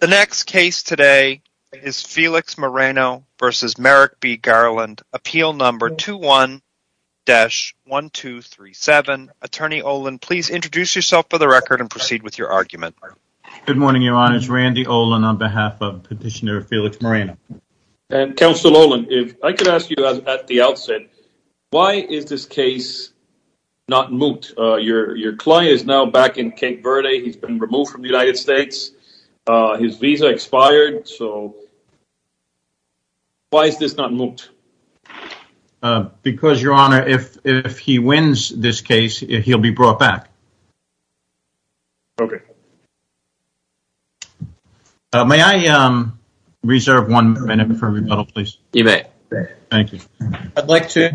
The next case today is Felix Moreno v. Merrick B. Garland, Appeal No. 21-1237. Attorney Olin, please introduce yourself for the record and proceed with your argument. Good morning, Your Honors. Randy Olin on behalf of Petitioner Felix Moreno. And Counsel Olin, if I could ask you at the outset, why is this case not moot? Your client is now back in Cape Verde. He's been removed from the United States. His visa expired. So why is this not moot? Because, Your Honor, if he wins this case, he'll be brought back. Okay. May I reserve one minute for rebuttal, please? You may. Thank you. I'd like to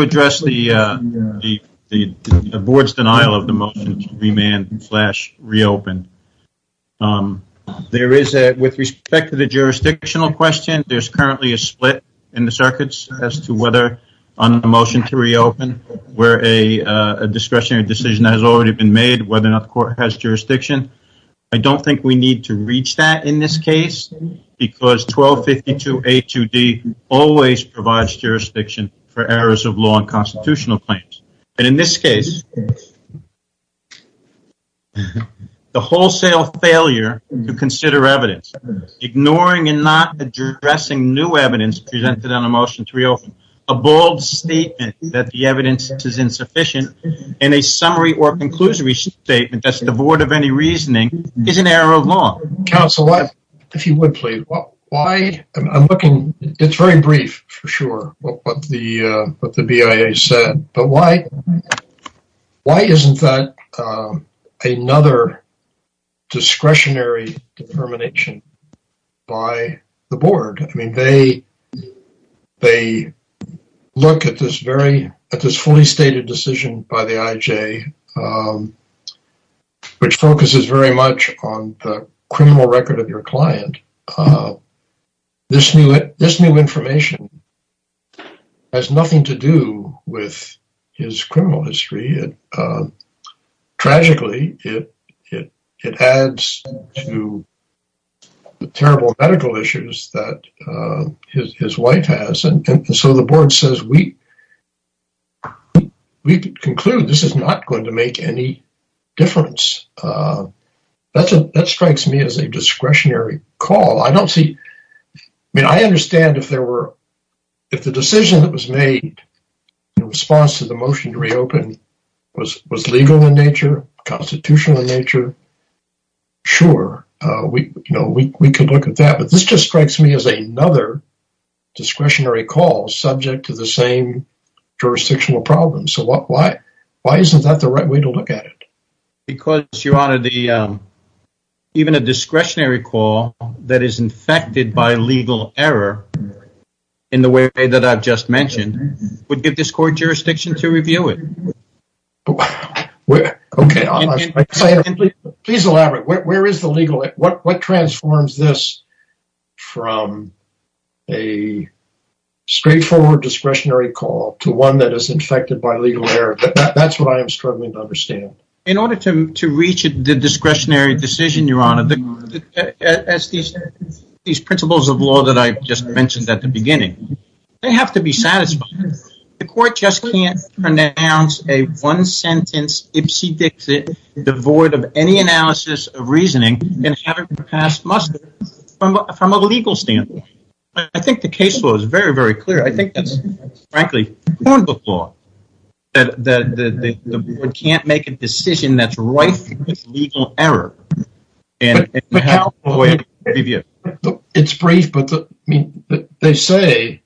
address the board's denial of the motion to remand and reopen. With respect to the jurisdictional question, there's currently a split in the circuits as to whether on the motion to reopen, where a discretionary decision has already been made, whether or not the court has jurisdiction. I don't think we need to reach that in this case because 1252A2D always provides jurisdiction for errors of law and constitutional claims. And in this case, the wholesale failure to consider evidence, ignoring and not addressing new evidence presented on a motion to reopen, a bold statement that the evidence is insufficient, and a summary or conclusory statement that's devoid of any reasoning is an error of law. Counsel, if you would, please. It's very brief, for sure, what the BIA said. But why isn't that another discretionary determination by the board? I mean, they look at this fully stated decision by the IJ, which focuses very much on the criminal record of your client. This new information has nothing to do with his criminal history. Tragically, it adds to the terrible medical issues that his wife has. And so the board says, we conclude this is not going to make any difference. That strikes me as a discretionary call. I mean, I understand if the decision that was made in response to the motion to reopen was legal in nature, constitutional in nature. Sure, we could look at that. But this just strikes me as another discretionary call subject to the same jurisdictional problems. So why isn't that the right way to look at it? Because, Your Honor, even a discretionary call that is infected by legal error in the way that I've just mentioned would give this court jurisdiction to review it. Please elaborate. Where is the legal? What transforms this from a straightforward discretionary call to one that is infected by legal error? That's what I'm struggling to understand. In order to reach the discretionary decision, Your Honor, as these principles of law that I just mentioned at the beginning, they have to be satisfied. The court just can't pronounce a one-sentence ipsy dixit devoid of any analysis of reasoning and have it passed muster from a legal standpoint. I think the case was very, very clear. I think that's, frankly, proven before that the court can't make a decision that's right because of legal error. It's brief, but they say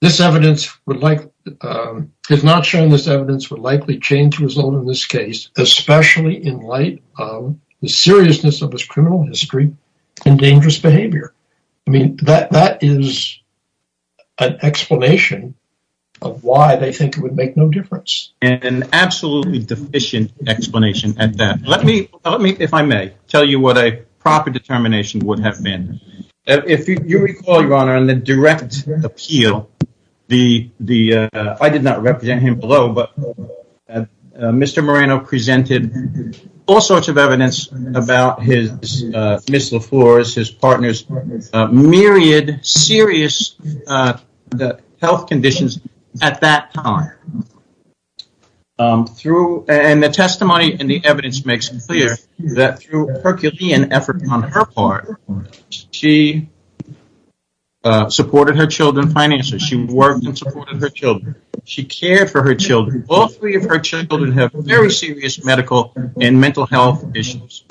this evidence, if not shown, this evidence would likely change the result of this case, especially in light of the seriousness of this criminal history and dangerous behavior. That is an explanation of why they think it would make no difference. An absolutely deficient explanation at that. Let me, if I may, tell you what a proper determination would have been. If you recall, Your Honor, in the direct appeal, I did not represent him below, but Mr. Moreno presented all sorts of evidence about his, Ms. LaFlores, his partner's myriad serious health conditions at that time. And the testimony and the evidence makes it clear that through Herculean effort on her part, she supported her children financially. She worked and supported her children. She cared for her children. All three of her children have very serious medical and mental health issues.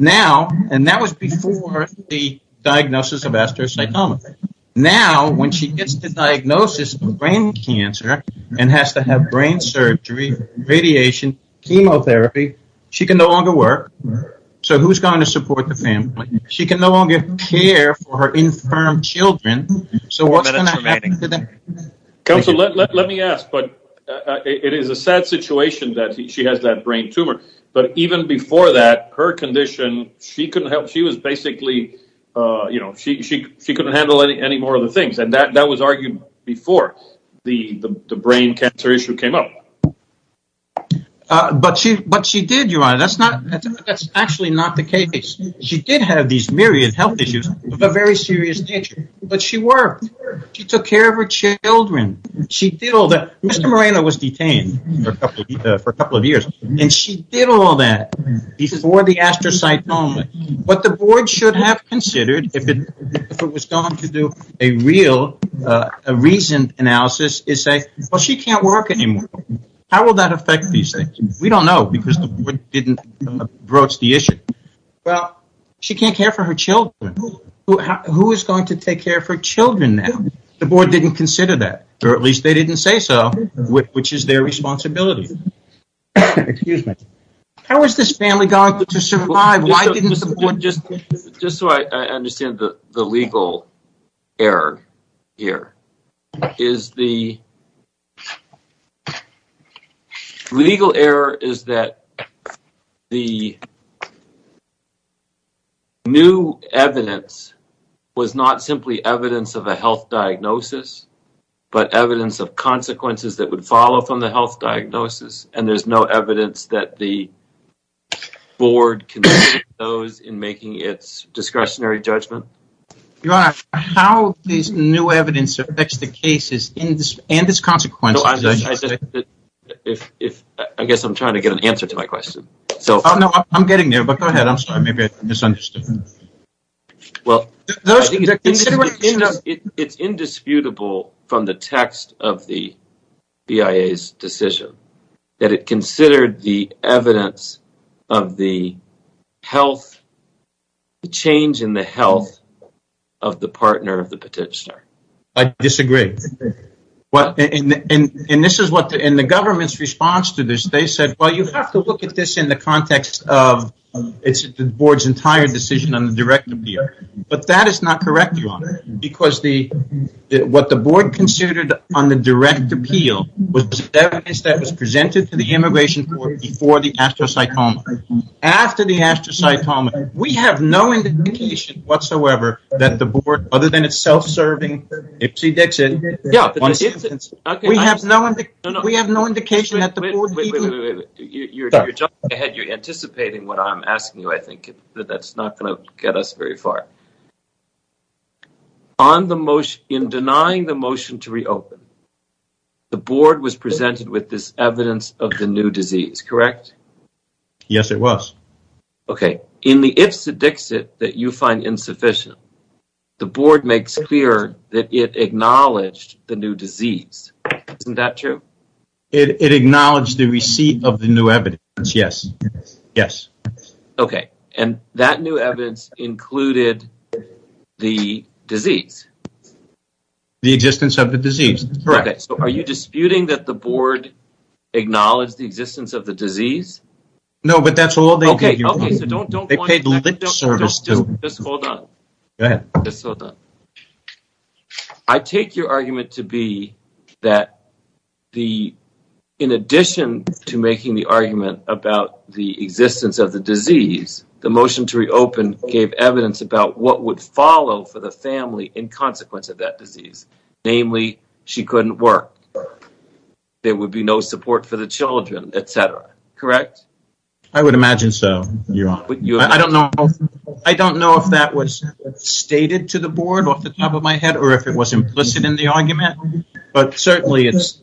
Now, and that was before the diagnosis of astrocytoma. Now, when she gets the diagnosis of brain cancer and has to have brain surgery, radiation, chemotherapy, she can no longer work. So who's going to support the family? She can no longer care for her infirm children. So what's going to happen to them? Counselor, let me ask, but it is a sad situation that she has that brain tumor. But even before that, her condition, she couldn't help. She was basically, you know, she couldn't handle any more of the things. And that was argued before the brain cancer issue came up. But she did, Your Honor. That's actually not the case. She did have these myriad health issues of a very serious nature. But she worked. She took care of her children. She did all that. Mr. Moreno was detained for a couple of years. And she did all that before the astrocytoma. What the board should have considered if it was going to do a real, a reasoned analysis is say, well, she can't work anymore. How will that affect these things? We don't know because the board didn't approach the issue. Well, she can't care for her children. Who is going to take care of her children now? The board didn't consider that. Or at least they didn't say so, which is their responsibility. Excuse me. How is this family going to survive? Why didn't the board just... Just so I understand the legal error here. The legal error is that the new evidence was not simply evidence of a health diagnosis, but evidence of consequences that would follow from the health diagnosis. And there's no evidence that the board considered those in making its discretionary judgment. Your Honor, how this new evidence affects the cases and its consequences... I guess I'm trying to get an answer to my question. I'm getting there, but go ahead. I'm sorry, maybe I misunderstood. Well, it's indisputable from the text of the BIA's decision that it considered the evidence of the change in the health of the partner of the petitioner. I disagree. And the government's response to this, they said, well, you have to look at this in the context of the board's entire decision on the direct appeal. But that is not correct, Your Honor. Because what the board considered on the direct appeal was evidence that was presented to the immigration court before the astrocytoma. After the astrocytoma, we have no indication whatsoever that the board, other than its self-serving Ipsy Dixit... We have no indication that the board... Wait, wait, wait, wait. You're jumping ahead, you're anticipating what I'm asking you, I think. That's not going to get us very far. In denying the motion to reopen, the board was presented with this evidence of the new disease, correct? Yes, it was. Okay, in the Ipsy Dixit that you find insufficient, the board makes clear that it acknowledged the new disease. Isn't that true? It acknowledged the receipt of the new evidence, yes. Yes. Okay, and that new evidence included the disease. The existence of the disease. Okay, so are you disputing that the board acknowledged the existence of the disease? No, but that's all they gave you. Okay, okay, so don't point... They paid lip service to... Just hold on. Go ahead. Just hold on. I take your argument to be that in addition to making the argument about the existence of the disease, the motion to reopen gave evidence about what would follow for the family in consequence of that disease. Namely, she couldn't work. There would be no support for the children, etc., correct? I would imagine so, Your Honor. I don't know if that was stated to the board off the top of my head or if it was implicit in the argument, but certainly it's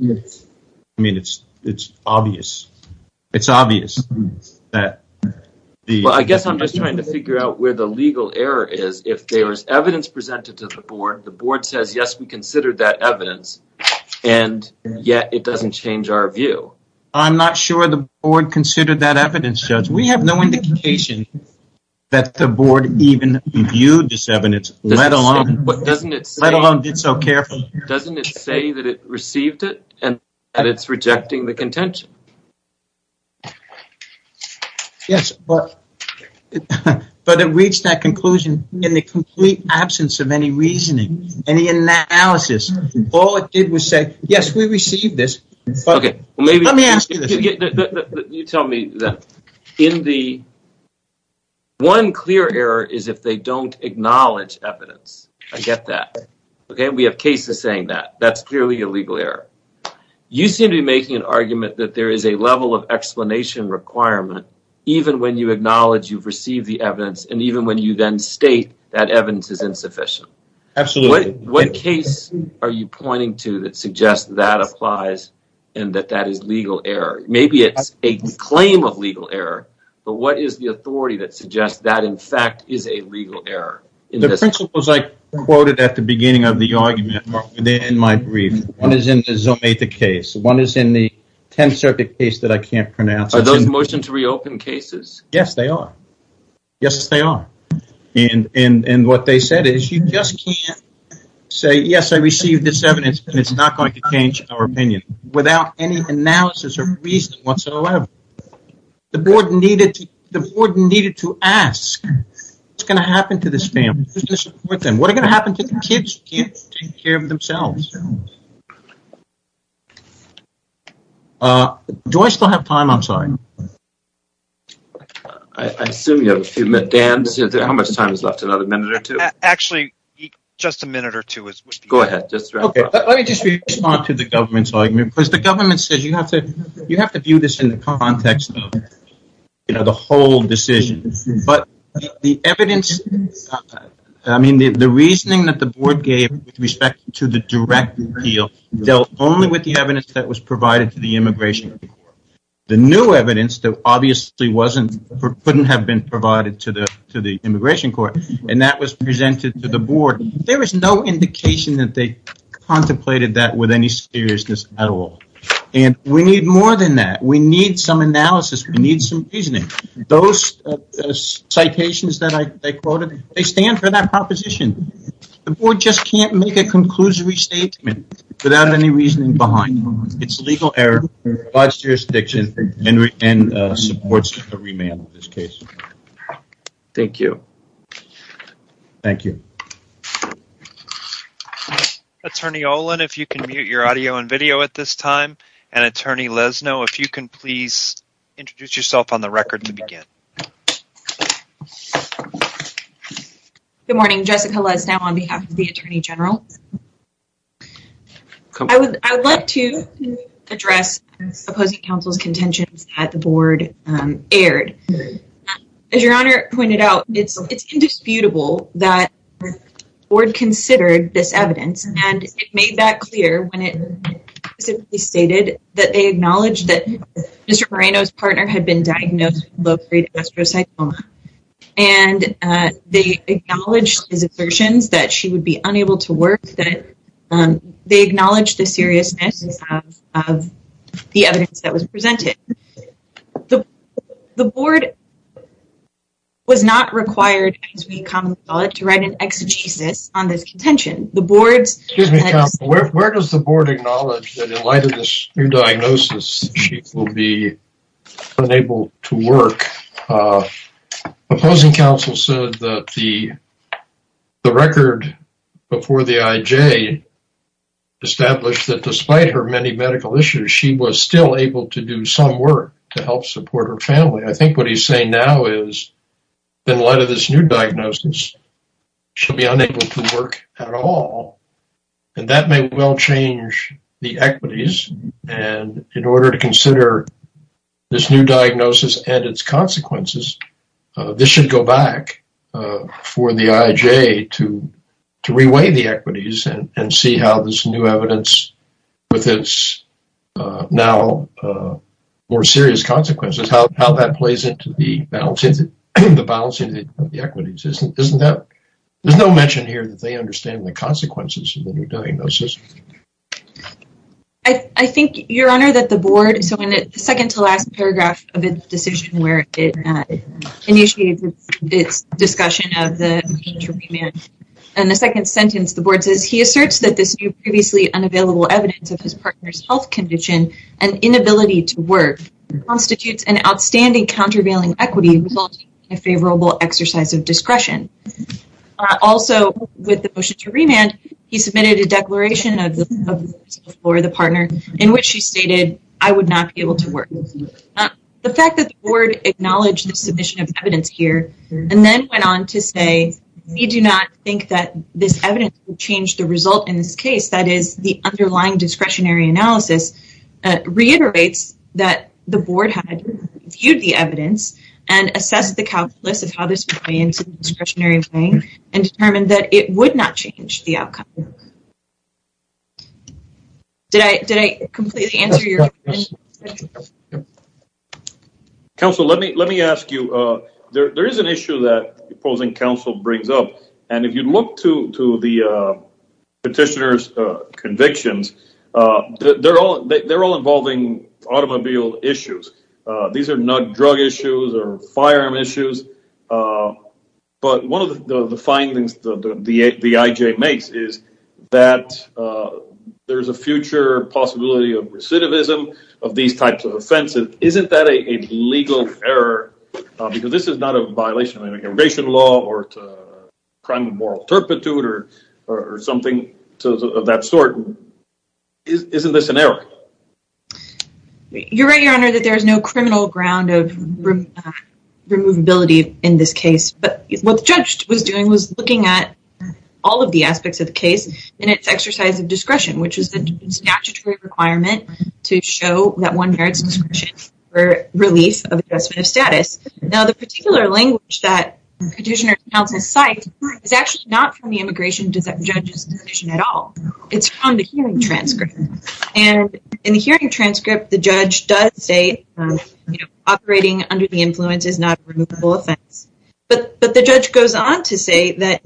obvious. It's obvious that the... Well, I guess I'm just trying to figure out where the legal error is. If there is evidence presented to the board, the board says, yes, we considered that evidence, and yet it doesn't change our view. I'm not sure the board considered that evidence, Judge. We have no indication that the board even viewed this evidence, let alone did so carefully. Doesn't it say that it received it and that it's rejecting the contention? Yes, but it reached that conclusion in the complete absence of any reasoning, any analysis. All it did was say, yes, we received this, but let me ask you this. You tell me that in the... One clear error is if they don't acknowledge evidence. I get that. We have cases saying that. That's clearly a legal error. You seem to be making an argument that there is a level of explanation requirement even when you acknowledge you've received the evidence and even when you then state that evidence is insufficient. Absolutely. What case are you pointing to that suggests that applies and that that is legal error? Maybe it's a claim of legal error, but what is the authority that suggests that, in fact, is a legal error? The principles I quoted at the beginning of the argument are within my brief. One is in the Zometa case. One is in the 10th Circuit case that I can't pronounce. Are those motion to reopen cases? Yes, they are. Yes, they are. And what they said is you just can't say, yes, I received this evidence, and it's not going to change our opinion without any analysis or reason whatsoever. The board needed to ask, what's going to happen to this family? Who's going to support them? What's going to happen to the kids who can't take care of themselves? Do I still have time? I'm sorry. I assume you have a few minutes. Dan, how much time is left? Another minute or two? Actually, just a minute or two. Go ahead. Let me just respond to the government's argument because the government says you have to view this in the context of the whole decision. The reasoning that the board gave with respect to the direct appeal dealt only with the evidence that was provided to the Immigration Court. The new evidence obviously couldn't have been provided to the Immigration Court, and that was presented to the board. There was no indication that they contemplated that with any seriousness at all. And we need more than that. We need some analysis. We need some reasoning. Those citations that I quoted, they stand for that proposition. The board just can't make a conclusory statement without any reasoning behind it. It's a legal error by jurisdiction and supports a remand in this case. Thank you. Thank you. Attorney Olin, if you can mute your audio and video at this time, and Attorney Lesno, if you can please introduce yourself on the record to begin. Good morning. Jessica Lesno on behalf of the Attorney General. I would like to address opposing counsel's contentions that the board aired. As your Honor pointed out, it's indisputable that the board considered this evidence, and it made that clear when it stated that they acknowledged that Mr. Moreno's partner had been diagnosed with low-grade astrocytoma. And they acknowledged his assertions that she would be unable to work, that they acknowledged the seriousness of the evidence that was presented. The board was not required, as we commonly call it, to write an exegesis on this contention. Excuse me, counsel. Where does the board acknowledge that in light of this new diagnosis, she will be unable to work? Opposing counsel said that the record before the IJ established that despite her many medical issues, she was still able to do some work to help support her family. I think what he's saying now is in light of this new diagnosis, she'll be unable to work at all. And that may well change the equities. And in order to consider this new diagnosis and its consequences, this should go back for the IJ to reweigh the equities and see how this new evidence with its now more serious consequences, how that plays into the balance of the equities. There's no mention here that they understand the consequences of the new diagnosis. I think, your honor, that the board, so in the second to last paragraph of its decision where it initiated its discussion of the contraband, in the second sentence, the board says, he asserts that this previously unavailable evidence of his partner's health condition and inability to work constitutes an outstanding countervailing equity resulting in a favorable exercise of discretion. Also, with the motion to remand, he submitted a declaration for the partner in which she stated, I would not be able to work. The fact that the board acknowledged the submission of evidence here and then went on to say, we do not think that this evidence would change the result in this case. That is, the underlying discretionary analysis reiterates that the board had viewed the evidence and assessed the calculus of how this would play into the discretionary weighing and determined that it would not change the outcome. Did I completely answer your question? Counsel, let me ask you, there is an issue that opposing counsel brings up. And if you look to the petitioner's convictions, they're all involving automobile issues. These are not drug issues or firearm issues. But one of the findings that the IJ makes is that there's a future possibility of recidivism of these types of offenses. Isn't that a legal error? Because this is not a violation of immigration law or crime of moral turpitude or something of that sort. Isn't this an error? You're right, Your Honor, that there is no criminal ground of removability in this case. But what the judge was doing was looking at all of the aspects of the case in its exercise of discretion, which is the statutory requirement to show that one merits discretion for release of adjustment of status. Now, the particular language that petitioner denounces cite is actually not from the immigration judge's decision at all. It's from the hearing transcript. And in the hearing transcript, the judge does say operating under the influence is not a removable offense. But the judge goes on to say that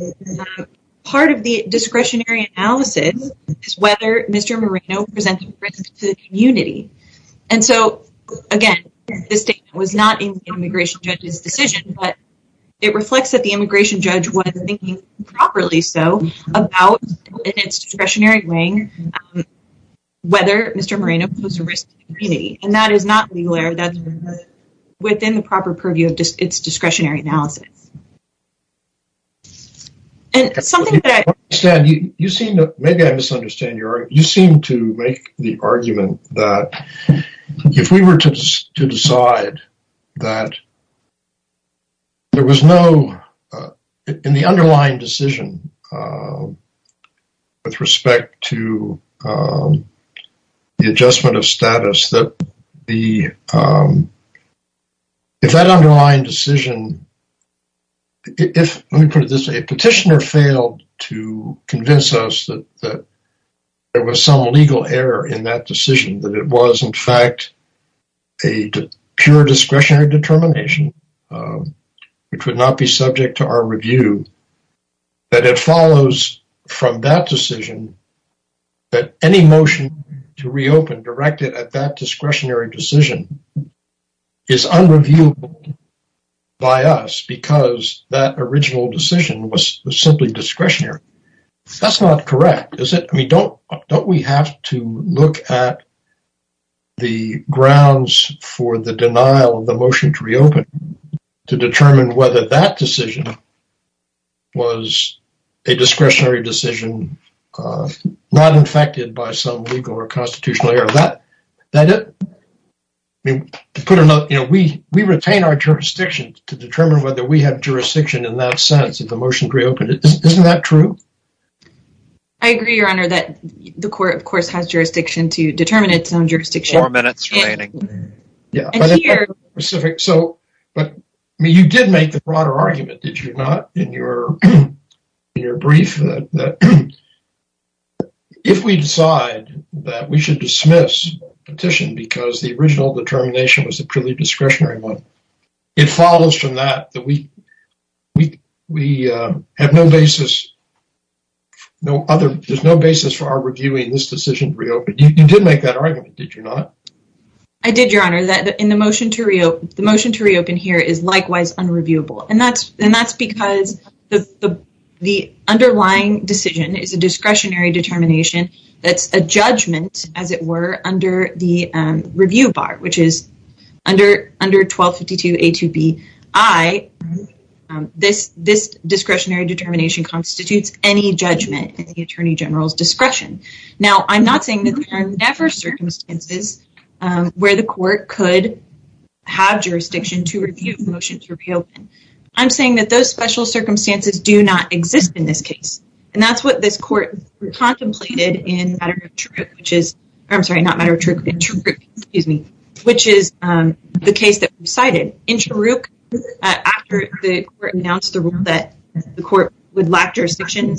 part of the discretionary analysis is whether Mr. Marino presents a risk to the community. And so, again, this statement was not in the immigration judge's decision. But it reflects that the immigration judge was thinking properly so about in its discretionary weighing whether Mr. Marino posed a risk to the community. And that is not legal error. That's within the proper purview of its discretionary analysis. And something that... Stan, you seem to make the argument that if we were to decide that there was no, in the underlying decision with respect to the adjustment of status, that if that underlying decision, if, let me put it this way, a petitioner failed to convince us that there was some legal error in that decision, that it was, in fact, a pure discretionary determination, which would not be subject to our review, that it follows from that decision that any motion to reopen directed at that discretionary decision is unreviewable by us because that original decision was simply discretionary. That's not correct, is it? I mean, don't we have to look at the grounds for the denial of the motion to reopen to determine whether that decision was a discretionary decision not infected by some legal or constitutional error? We retain our jurisdiction to determine whether we have jurisdiction in that sense if a motion to reopen. Isn't that true? I agree, Your Honor, that the court, of course, has jurisdiction to determine its own jurisdiction. Four minutes remaining. But you did make the broader argument, did you not, in your brief, that if we decide that we should dismiss the petition because the original determination was a purely discretionary one, it follows from that that we have no basis for our reviewing this decision to reopen. You did make that argument, did you not? I did, Your Honor, that the motion to reopen here is likewise unreviewable. And that's because the underlying decision is a discretionary determination that's a judgment, as it were, under the review bar, which is under 1252A2Bi. This discretionary determination constitutes any judgment in the Attorney General's discretion. Now, I'm not saying that there are never circumstances where the court could have jurisdiction to review a motion to reopen. I'm saying that those special circumstances do not exist in this case. And that's what this court contemplated in Mataruk, which is the case that we cited. In Mataruk, after the court announced the rule that the court would lack jurisdiction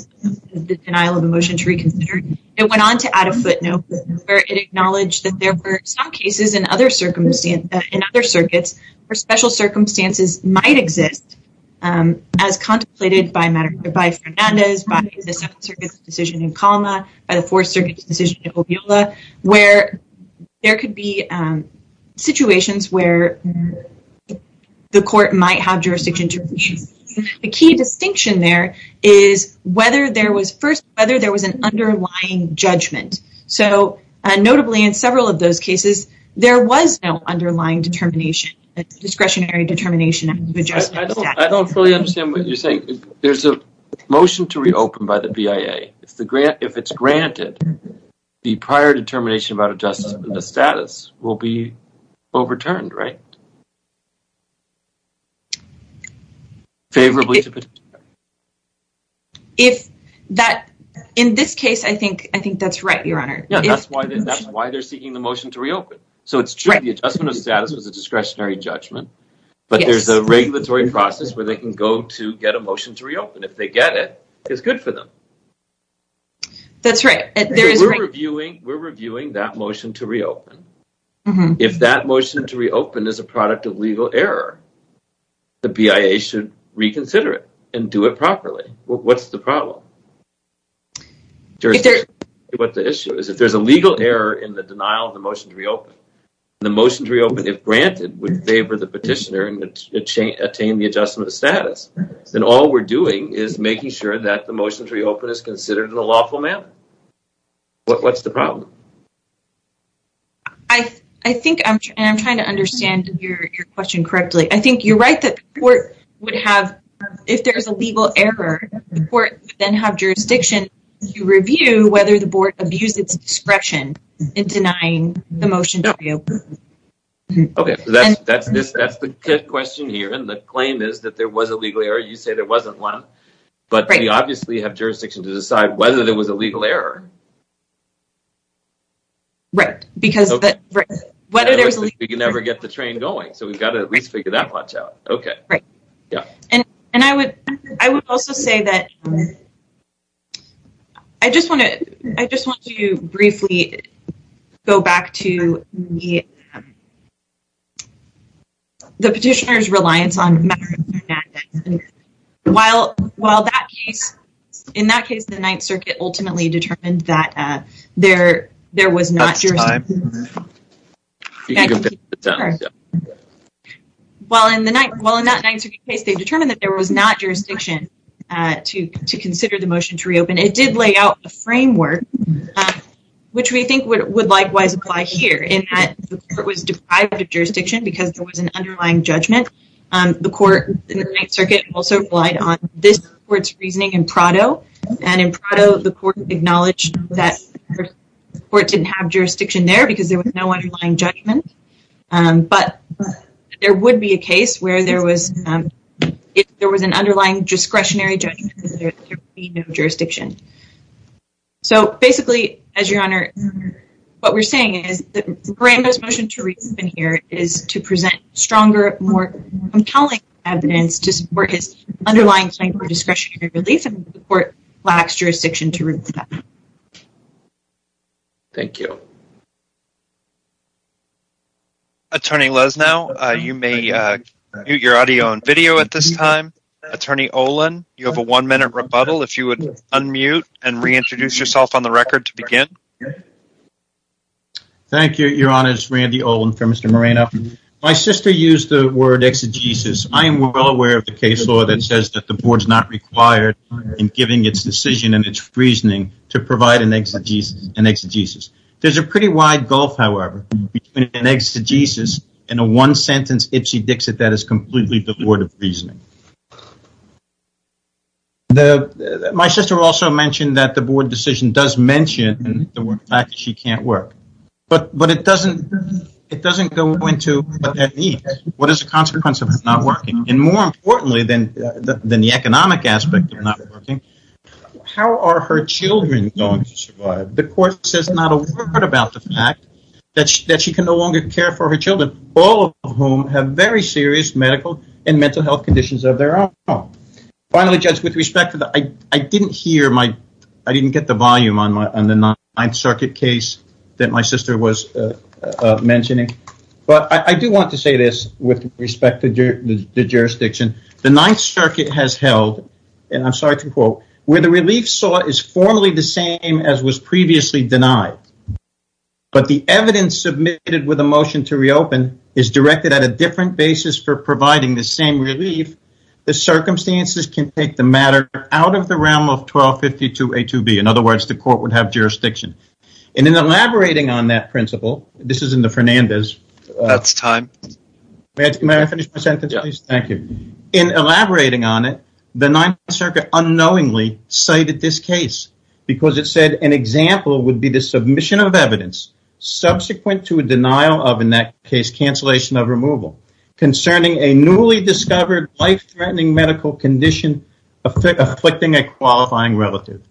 in the denial of a motion to reconsider, it went on to add a footnote where it acknowledged that there were some cases in other circuits where special circumstances might exist, as contemplated by Fernandez, by the Seventh Circuit's decision in Calma, by the Fourth Circuit's decision in Ovila, where there could be situations where the court might have jurisdiction to review. The key distinction there is whether there was an underlying judgment. So, notably, in several of those cases, there was no underlying determination, a discretionary determination of adjustment of status. I don't fully understand what you're saying. There's a motion to reopen by the BIA. If it's granted, the prior determination about adjustment of status will be overturned, right? In this case, I think that's right, Your Honor. That's why they're seeking the motion to reopen. So, it's true the adjustment of status was a discretionary judgment, but there's a regulatory process where they can go to get a motion to reopen. If they get it, it's good for them. That's right. We're reviewing that motion to reopen. If that motion to reopen is a product of legal error, the BIA should reconsider it and do it properly. What's the problem? What the issue is, if there's a legal error in the denial of the motion to reopen, the motion to reopen, if granted, would favor the petitioner and attain the adjustment of status. Then all we're doing is making sure that the motion to reopen is considered in a lawful manner. What's the problem? I think I'm trying to understand your question correctly. I think you're right that the court would have, if there's a legal error, the court would then have jurisdiction to review whether the board abused its discretion in denying the motion to reopen. Okay. That's the question here. The claim is that there was a legal error. You say there wasn't one, but we obviously have jurisdiction to decide whether there was a legal error. Right. Whether there's a legal error. We can never get the train going, so we've got to at least figure that part out. Okay. Right. I would also say that I just want to briefly go back to the petitioner's reliance on matter of fact. While in that case, the Ninth Circuit ultimately determined that there was not jurisdiction. While in that Ninth Circuit case, they determined that there was not jurisdiction to consider the motion to reopen. It did lay out a framework, which we think would likewise apply here, in that the court was deprived of jurisdiction because there was an underlying judgment. The court in the Ninth Circuit also relied on this court's reasoning in Prado, and in Prado, the court acknowledged that the court didn't have jurisdiction there because there was no underlying judgment. But there would be a case where there was an underlying discretionary judgment because there would be no jurisdiction. So basically, as your Honor, what we're saying is that Miranda's motion to reopen here is to present stronger, more compelling evidence to support his underlying claim for discretionary relief. And the court lacks jurisdiction to remove that. Thank you. Attorney Lesnau, you may mute your audio and video at this time. Attorney Olin, you have a one-minute rebuttal. If you would unmute and reintroduce yourself on the record to begin. Thank you, Your Honor. It's Randy Olin for Mr. Moreno. My sister used the word exegesis. I am well aware of the case law that says that the board is not required in giving its decision and its reasoning to provide an exegesis. There's a pretty wide gulf, however, between an exegesis and a one-sentence ipsy-dixit that is completely devoid of reasoning. My sister also mentioned that the board decision does mention the fact that she can't work. But it doesn't go into what that means. And more importantly than the economic aspect of not working, how are her children going to survive? The court says not a word about the fact that she can no longer care for her children, all of whom have very serious medical and mental health conditions of their own. Finally, Judge, with respect to that, I didn't get the volume on the Ninth Circuit case that my sister was mentioning. But I do want to say this with respect to the jurisdiction. The Ninth Circuit has held, and I'm sorry to quote, where the relief sought is formally the same as was previously denied. But the evidence submitted with a motion to reopen is directed at a different basis for providing the same relief. The circumstances can take the matter out of the realm of 1252A2B. In other words, the court would have jurisdiction. In elaborating on that principle, the Ninth Circuit unknowingly cited this case. Because it said an example would be the submission of evidence subsequent to a denial of, in that case, cancellation of removal. Concerning a newly discovered life-threatening medical condition afflicting a qualifying relative.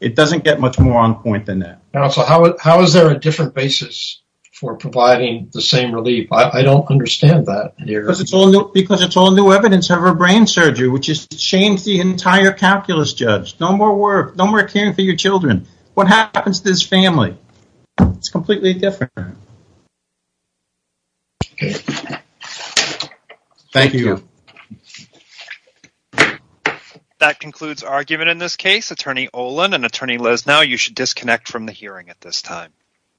It doesn't get much more on point than that. So how is there a different basis for providing the same relief? I don't understand that. Because it's all new evidence of her brain surgery, which has changed the entire calculus, Judge. No more work, no more caring for your children. What happens to this family? It's completely different. Thank you. Thank you. That concludes our argument in this case. Attorney Olin and Attorney Lesnau, you should disconnect from the hearing at this time.